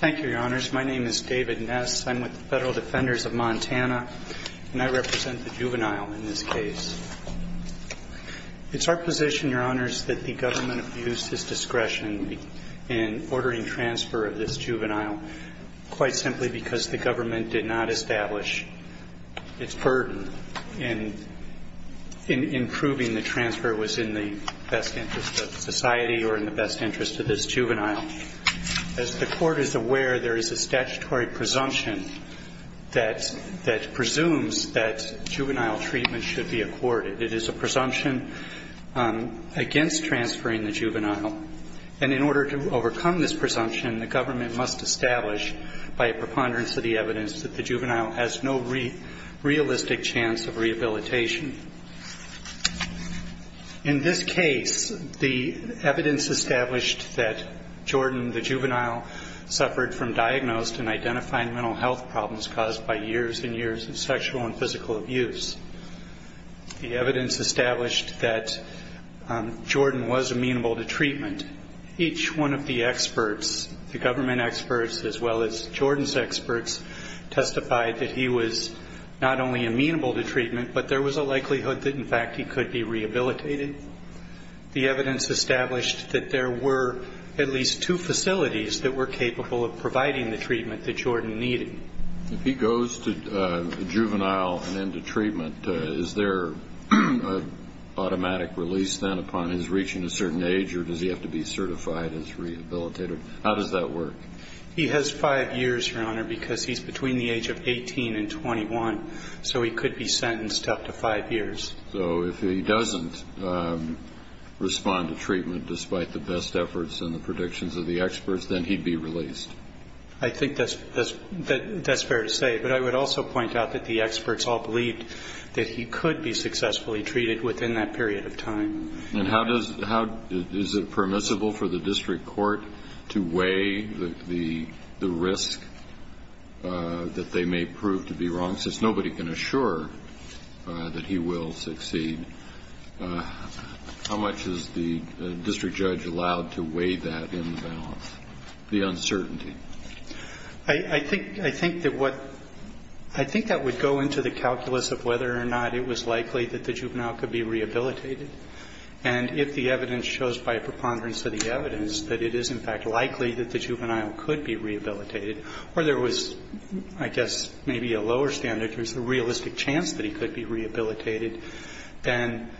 Thank you, Your Honors. My name is David Ness. I'm with the Federal Defenders of Montana, and I represent the juvenile in this case. It's our position, Your Honors, that the government abused its discretion in ordering transfer of this juvenile, quite simply because the government did not establish its burden in improving the transfer within the best interest of society or in the best interest of this juvenile. As the Court is aware, there is a statutory presumption that presumes that juvenile treatment should be accorded. It is a presumption against transferring the juvenile. And in order to overcome this presumption, the government must establish, by a preponderance of the evidence, that the juvenile has no realistic chance of rehabilitation. In this case, the evidence established that Jordan, the juvenile, suffered from diagnosed and identified mental health problems caused by years and years of sexual and physical abuse. The evidence established that Jordan was amenable to treatment. Each one of the experts, the government experts as well as Jordan's experts, testified that he was not only amenable to treatment, but there was a likelihood that he could be treated. There was a likelihood that, in fact, he could be rehabilitated. The evidence established that there were at least two facilities that were capable of providing the treatment that Jordan needed. If he goes to juvenile and into treatment, is there an automatic release then upon his reaching a certain age, or does he have to be certified as rehabilitated? How does that work? He has five years, Your Honor, because he's between the age of 18 and 21, so he could be sentenced to up to five years. So if he doesn't respond to treatment despite the best efforts and the predictions of the experts, then he'd be released? I think that's fair to say, but I would also point out that the experts all believed that he could be successfully treated within that period of time. And is it permissible for the district court to weigh the risk that they may prove to be wrong, since nobody can assure that he will be released? How much is the district judge allowed to weigh that in the balance, the uncertainty? I think that would go into the calculus of whether or not it was likely that the juvenile could be rehabilitated. And if the evidence shows by preponderance of the evidence that it is, in fact, likely that the juvenile could be rehabilitated, or there was, I guess, maybe a lower standard, there's a realistic chance that he could be rehabilitated, then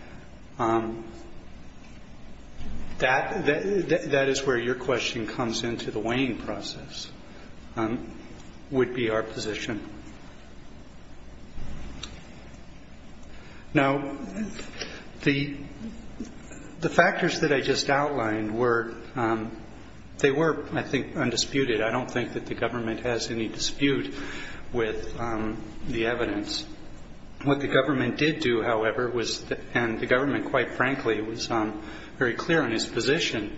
that is where your question comes into the weighing process, would be our position. Now, the factors that I just outlined were, they were, I think, undisputed. I don't think that the government has any dispute with the evidence. What the government did do, however, was, and the government, quite frankly, was very clear on its position.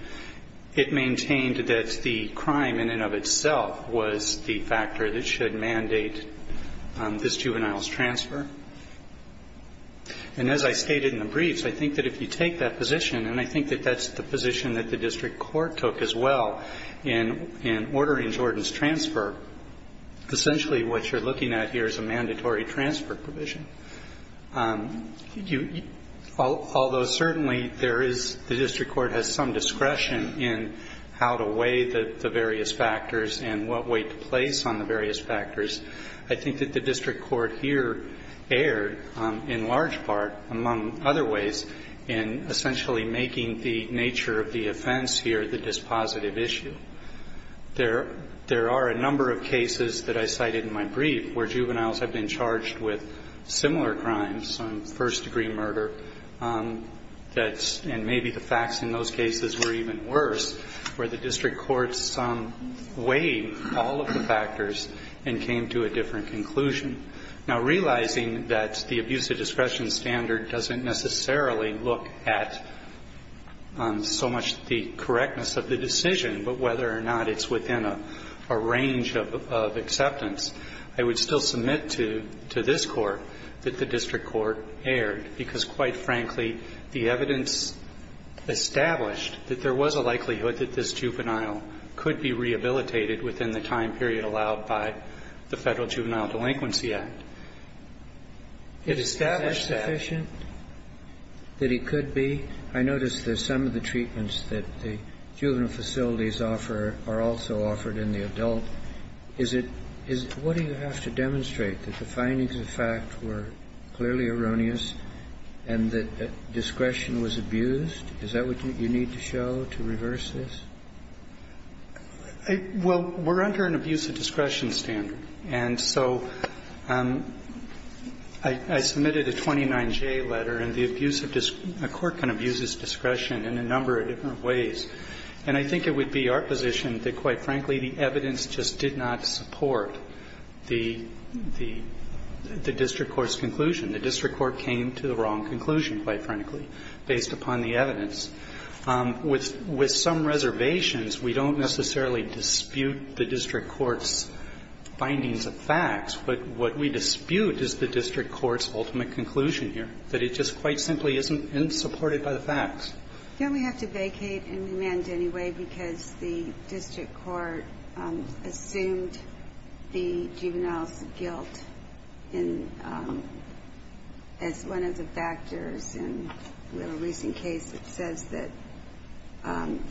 It maintained that the crime in and of itself was the factor that should mandate this juvenile's transfer. And as I stated in the briefs, I think that if you take that position, and I think that that's the position that the district court took as well, in ordering Jordan's transfer, essentially what you're looking at here is a mandatory transfer provision. Although certainly there is, the district court has some discretion in how to weigh the various factors and what weight to place on the various factors, I think that the district court here erred, in large part, among other ways, in essentially making the nature of the offense here the dispositive issue. There are a number of cases that I cited in my brief where juveniles have been charged with similar crimes, some first-degree murder, and maybe the facts in those cases were even worse, where the district courts weighed all of the factors and came to a different conclusion. Now, realizing that the abuse of discretion standard doesn't necessarily look at so much the correctness of the decision, but whether or not it's within a range of acceptance, I would still submit to this Court that the district court erred, because quite frankly, the evidence established that there was a likelihood that this juvenile could be rehabilitated within the time period allowed by the Federal Juvenile Delinquency Act. It established that. Is it sufficient that he could be? I noticed that some of the treatments that the juvenile facilities offer are also offered in the adult. Is it what do you have to demonstrate, that the findings of the fact were clearly erroneous and that discretion was abused? Is that what you need to show to reverse this? Well, we're under an abuse of discretion standard, and so I submitted a 29J letter, and the abuse of the court can abuse its discretion in a number of different ways. And I think it would be our position that, quite frankly, the evidence just did not support the district court's conclusion. The district court came to the wrong conclusion, quite frankly, based upon the evidence. With some reservations, we don't necessarily dispute the district court's findings of facts, but what we dispute is the district court's ultimate conclusion here, that it just quite simply isn't supported by the facts. Don't we have to vacate and amend anyway, because the district court assumed the juvenile's guilt, and as one of the factors in a recent case that says that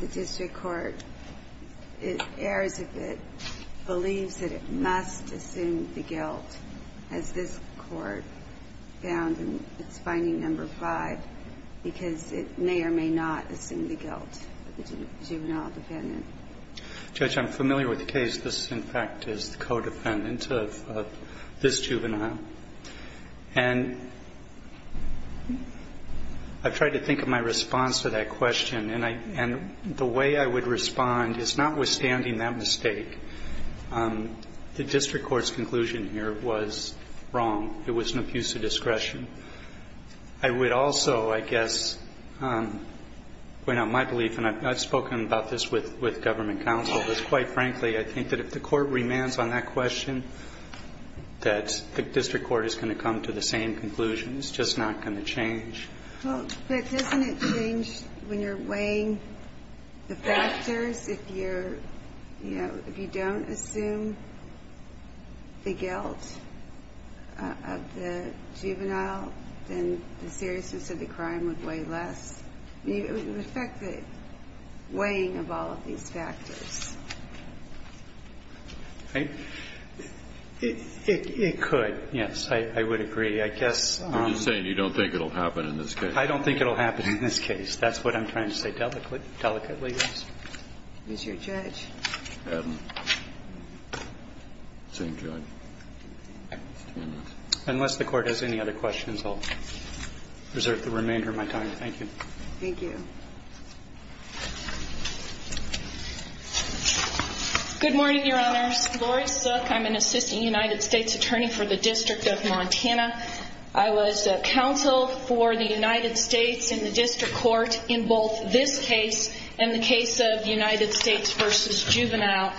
the district court errs if it believes that it must assume the guilt, as this Court found in its finding number 5, because it may or may not assume the guilt of the juvenile defendant? Judge, I'm familiar with the case. This, in fact, is the co-defendant of this juvenile. And I've tried to think of my response to that question, and the way I would respond is, notwithstanding that mistake, the district court's conclusion here was wrong. It was an abuse of discretion. I would also, I guess, point out my belief, and I've spoken about this with government counsel, but quite frankly, I think that if the court remands on that question, that the district court is going to come to the same conclusion. It's just not going to change. Well, but doesn't it change when you're weighing the factors? If you're, you know, if you don't assume the guilt of the juvenile, then the seriousness of the crime would weigh less. The fact that weighing of all of these factors. It could, yes. I would agree. I guess. You're just saying you don't think it will happen in this case. I don't think it will happen in this case. That's what I'm trying to say delicately. Is your judge? Same judge. Unless the court has any other questions, I'll reserve the remainder of my time. Thank you. Thank you. Good morning, Your Honors. Laurie Suk. I'm an assistant United States attorney for the District of Montana. I was counsel for the United States in the district court in both this case and the case of United States v. Juvenile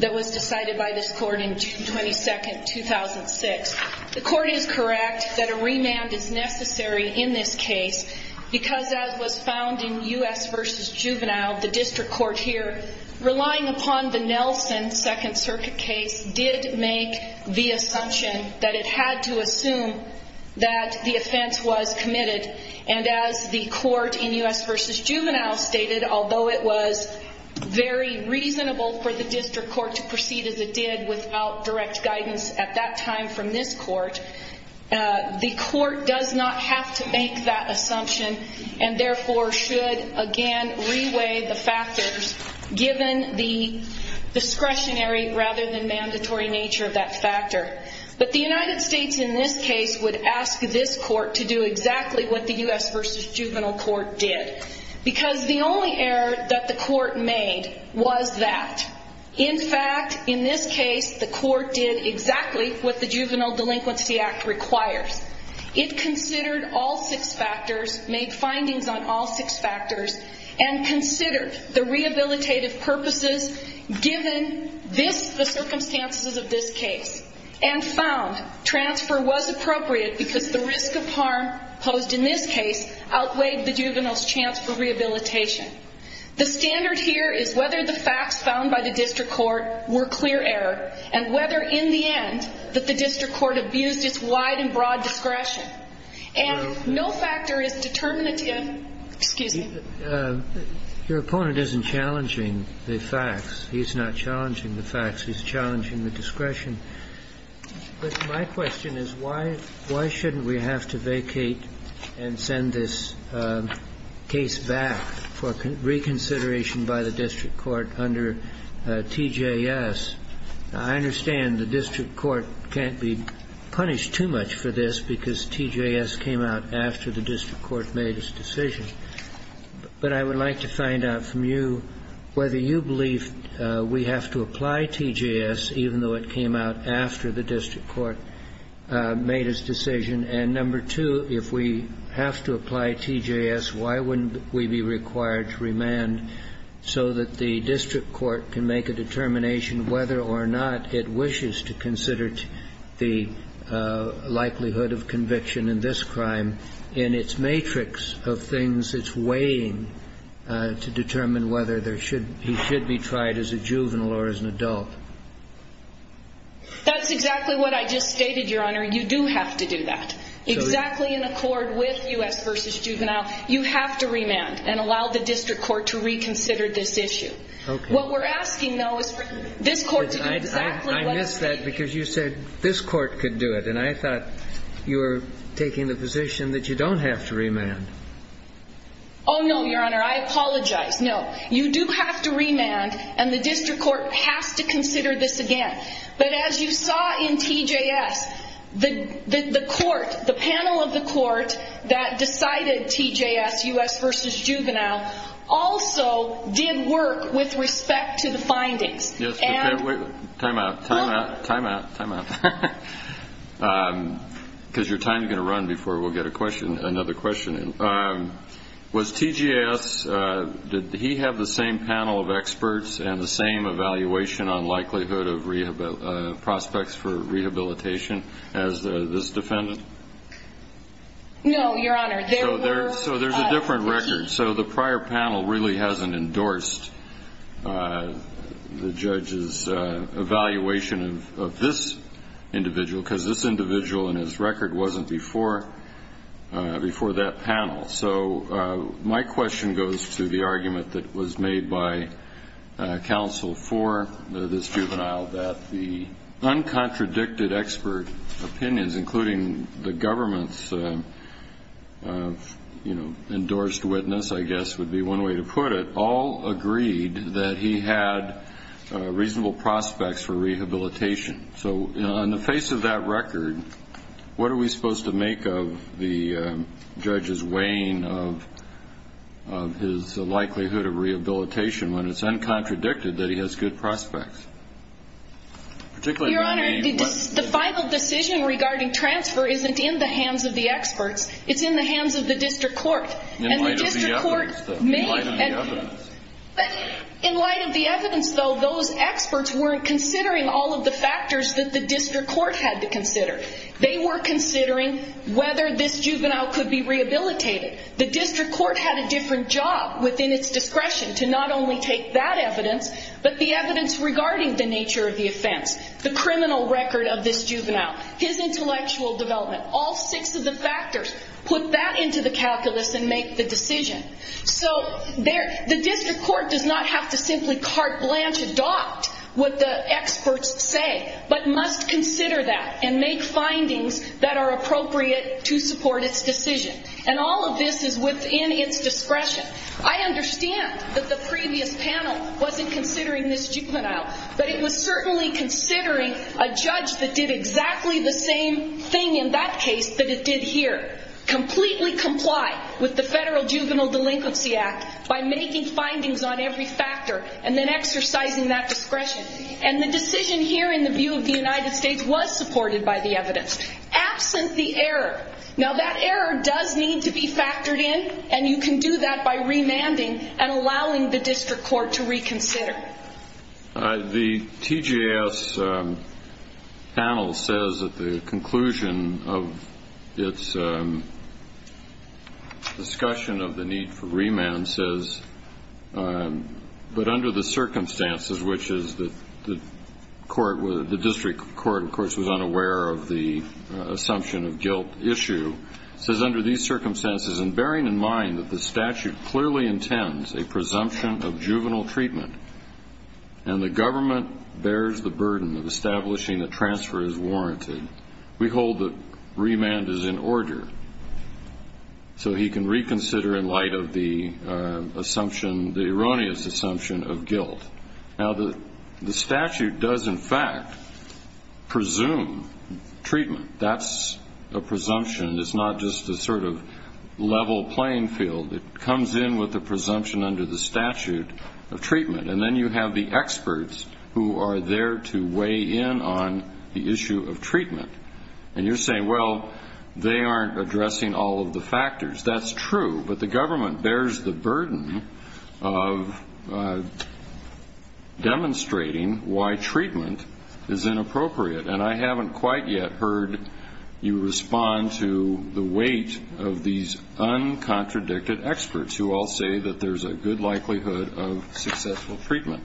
that was decided by this court in June 22, 2006. The court is correct that a remand is necessary in this case because as was found in U.S. v. Juvenile, the district court here, relying upon the Nelson Second Circuit case did make the assumption that it had to assume that the offense was committed. And as the court in U.S. v. Juvenile stated, although it was very reasonable for the district court to proceed as it did without direct guidance at that time from this court, the court does not have to make that assumption and therefore should again reweigh the factors given the discretionary rather than mandatory nature of that factor. But the United States in this case would ask this court to do exactly what the U.S. v. Juvenile court did because the only error that the court made was that. In fact, in this case, the court did exactly what the Juvenile Delinquency Act requires. It considered all six factors, made findings on all six factors, and considered the rehabilitative purposes given this, the circumstances of this case, and found transfer was appropriate because the risk of harm posed in this case outweighed the juvenile's chance for rehabilitation. The standard here is whether the facts found by the district court were clear error and whether in the end that the district court abused its wide and broad discretion. And no factor is determinative, excuse me. Your opponent isn't challenging the facts. He's not challenging the facts. He's challenging the discretion. But my question is why shouldn't we have to vacate and send this case back for reconsideration by the district court under TJS? I understand the district court can't be punished too much for this because TJS came out after the district court made its decision. But I would like to find out from you whether you believe we have to apply TJS, even though it came out after the district court made its decision. And number two, if we have to apply TJS, why wouldn't we be required to remand so that the district court can make a determination whether or not it wishes to consider the likelihood of conviction in this crime in its matrix of things it's weighing to determine whether he should be tried as a juvenile or as an adult? That's exactly what I just stated, Your Honor. You do have to do that. Exactly in accord with U.S. v. Juvenile, you have to remand and allow the district court to reconsider this issue. Okay. I missed that because you said this court could do it, and I thought you were taking the position that you don't have to remand. Oh, no, Your Honor. I apologize. No. You do have to remand, and the district court has to consider this again. But as you saw in TJS, the panel of the court that decided TJS, U.S. v. Juvenile, also did work with respect to the findings. Time out, time out, time out, time out. Because your time is going to run before we'll get another question in. Was TJS, did he have the same panel of experts and the same evaluation on likelihood of prospects for rehabilitation as this defendant? No, Your Honor. So there's a different record. So the prior panel really hasn't endorsed the judge's evaluation of this individual because this individual and his record wasn't before that panel. So my question goes to the argument that was made by counsel for this juvenile, that the uncontradicted expert opinions, including the government's endorsed witness, I guess, would be one way to put it, all agreed that he had reasonable prospects for rehabilitation. So on the face of that record, what are we supposed to make of the judge's weighing of his likelihood of rehabilitation when it's uncontradicted that he has good prospects? Your Honor, the final decision regarding transfer isn't in the hands of the experts. It's in the hands of the district court. In light of the evidence, though, in light of the evidence. In light of the evidence, though, those experts weren't considering all of the factors that the district court had to consider. They were considering whether this juvenile could be rehabilitated. The district court had a different job within its discretion to not only take that evidence, but the evidence regarding the nature of the offense, the criminal record of this juvenile, his intellectual development, all six of the factors. Put that into the calculus and make the decision. So the district court does not have to simply carte blanche adopt what the experts say, but must consider that and make findings that are appropriate to support its decision. And all of this is within its discretion. I understand that the previous panel wasn't considering this juvenile, but it was certainly considering a judge that did exactly the same thing in that case that it did here. Completely comply with the Federal Juvenile Delinquency Act by making findings on every factor and then exercising that discretion. And the decision here in the view of the United States was supported by the evidence. Absent the error. Now, that error does need to be factored in, and you can do that by remanding and allowing the district court to reconsider. The TGS panel says that the conclusion of its discussion of the need for remand says, but under the circumstances, which is that the district court, of course, was unaware of the assumption of guilt issue. It says, under these circumstances, and bearing in mind that the statute clearly intends a presumption of juvenile treatment and the government bears the burden of establishing that transfer is warranted, we hold that remand is in order. So he can reconsider in light of the assumption, the erroneous assumption of guilt. Now, the statute does, in fact, presume treatment. That's a presumption. It's not just a sort of level playing field. It comes in with a presumption under the statute of treatment, and then you have the experts who are there to weigh in on the issue of treatment. And you're saying, well, they aren't addressing all of the factors. That's true, but the government bears the burden of demonstrating why treatment is inappropriate, and I haven't quite yet heard you respond to the weight of these uncontradicted experts who all say that there's a good likelihood of successful treatment.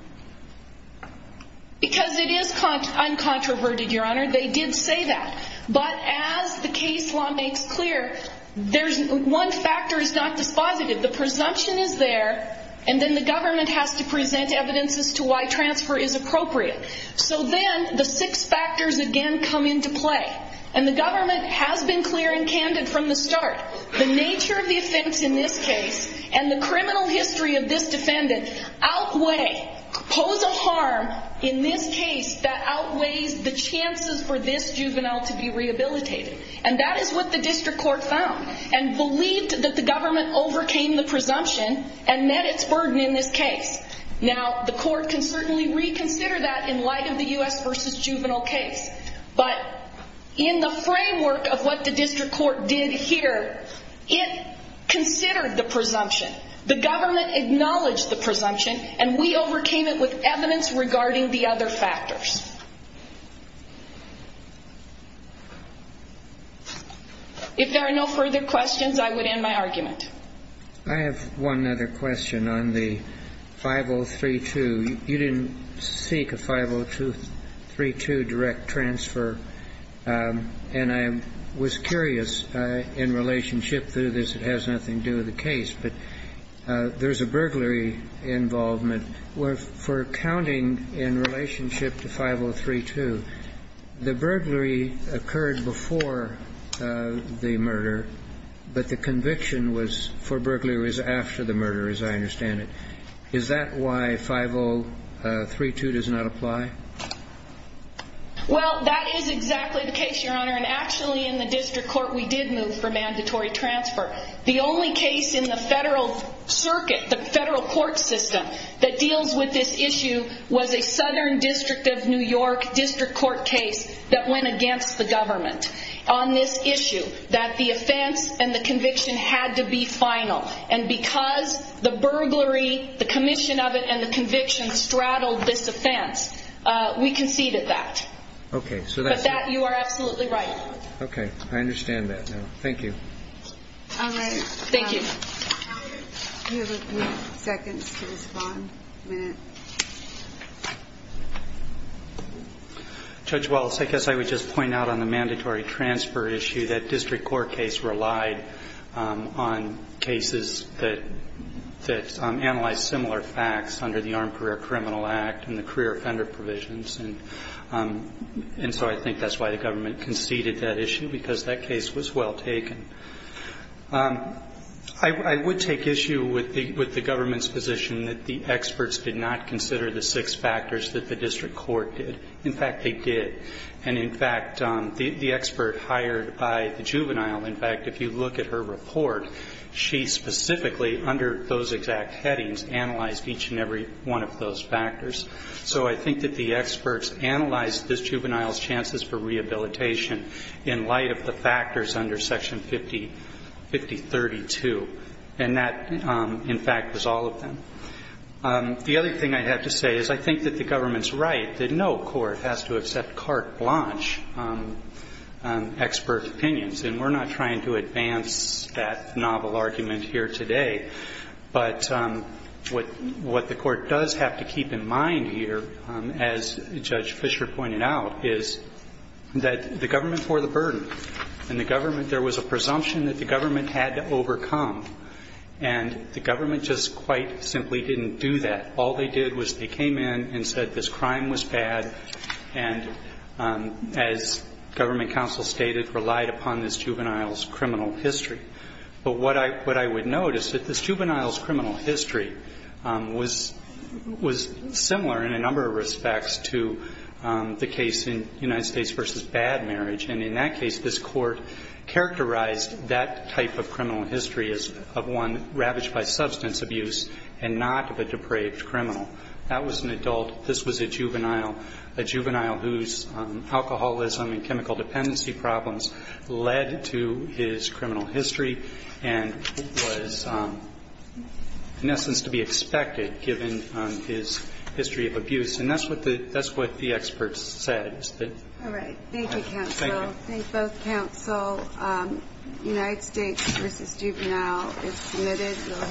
Because it is uncontroverted, Your Honor. They did say that. But as the case law makes clear, one factor is not dispositive. The presumption is there, and then the government has to present evidence as to why transfer is appropriate. So then the six factors again come into play, and the government has been clear and candid from the start. The nature of the offense in this case and the criminal history of this defendant outweigh, pose a harm in this case that outweighs the chances for this juvenile to be rehabilitated. And that is what the district court found and believed that the government overcame the presumption and met its burden in this case. Now, the court can certainly reconsider that in light of the U.S. v. juvenile case, but in the framework of what the district court did here, it considered the presumption. The government acknowledged the presumption and we overcame it with evidence regarding the other factors. If there are no further questions, I would end my argument. I have one other question on the 5032. You didn't seek a 5032 direct transfer, and I was curious in relationship to this, it has nothing to do with the case, but there's a burglary involvement for accounting in relationship to 5032. The burglary occurred before the murder, but the conviction was for burglaries after the murder, as I understand it. Is that why 5032 does not apply? Well, that is exactly the case, Your Honor, and actually in the district court we did move for mandatory transfer. The only case in the federal circuit, the federal court system, that deals with this issue was a Southern District of New York district court case that went against the government on this issue, that the offense and the conviction had to be final, and because the burglary, the commission of it, and the conviction straddled this offense, we conceded that. Okay. But that you are absolutely right. Okay. I understand that now. Thank you. All right. Thank you. Do you have a few seconds to respond? A minute? Judge Wallace, I guess I would just point out on the mandatory transfer issue that district court case relied on cases that analyzed similar facts under the Armed Career Criminal Act and the career offender provisions, and so I think that's why the government conceded that issue, because that case was well taken. I would take issue with the government's position that the experts did not consider the six factors that the district court did. In fact, they did. And, in fact, the expert hired by the juvenile, in fact, if you look at her report, she specifically, under those exact headings, analyzed each and every one of those factors. So I think that the experts analyzed this juvenile's chances for rehabilitation in light of the factors under Section 5032, and that, in fact, was all of them. The other thing I have to say is I think that the government's right that no court has to accept carte blanche expert opinions, and we're not trying to advance that novel argument here today. But what the court does have to keep in mind here, as Judge Fischer pointed out, is that the government bore the burden, and the government, there was a presumption that the government had to overcome, and the government just quite simply didn't do that. All they did was they came in and said this crime was bad, and as government counsel stated, relied upon this juvenile's criminal history. But what I would note is that this juvenile's criminal history was similar in a number of respects to the case in United States v. Bad Marriage. And in that case, this Court characterized that type of criminal history as of one ravaged by substance abuse and not of a depraved criminal. That was an adult. This was a juvenile, a juvenile whose alcoholism and chemical dependency problems led to his criminal history and was, in essence, to be expected given his history of abuse. And that's what the experts said. All right. Thank you, counsel. Thank both counsel. United States v. Juvenile is submitted.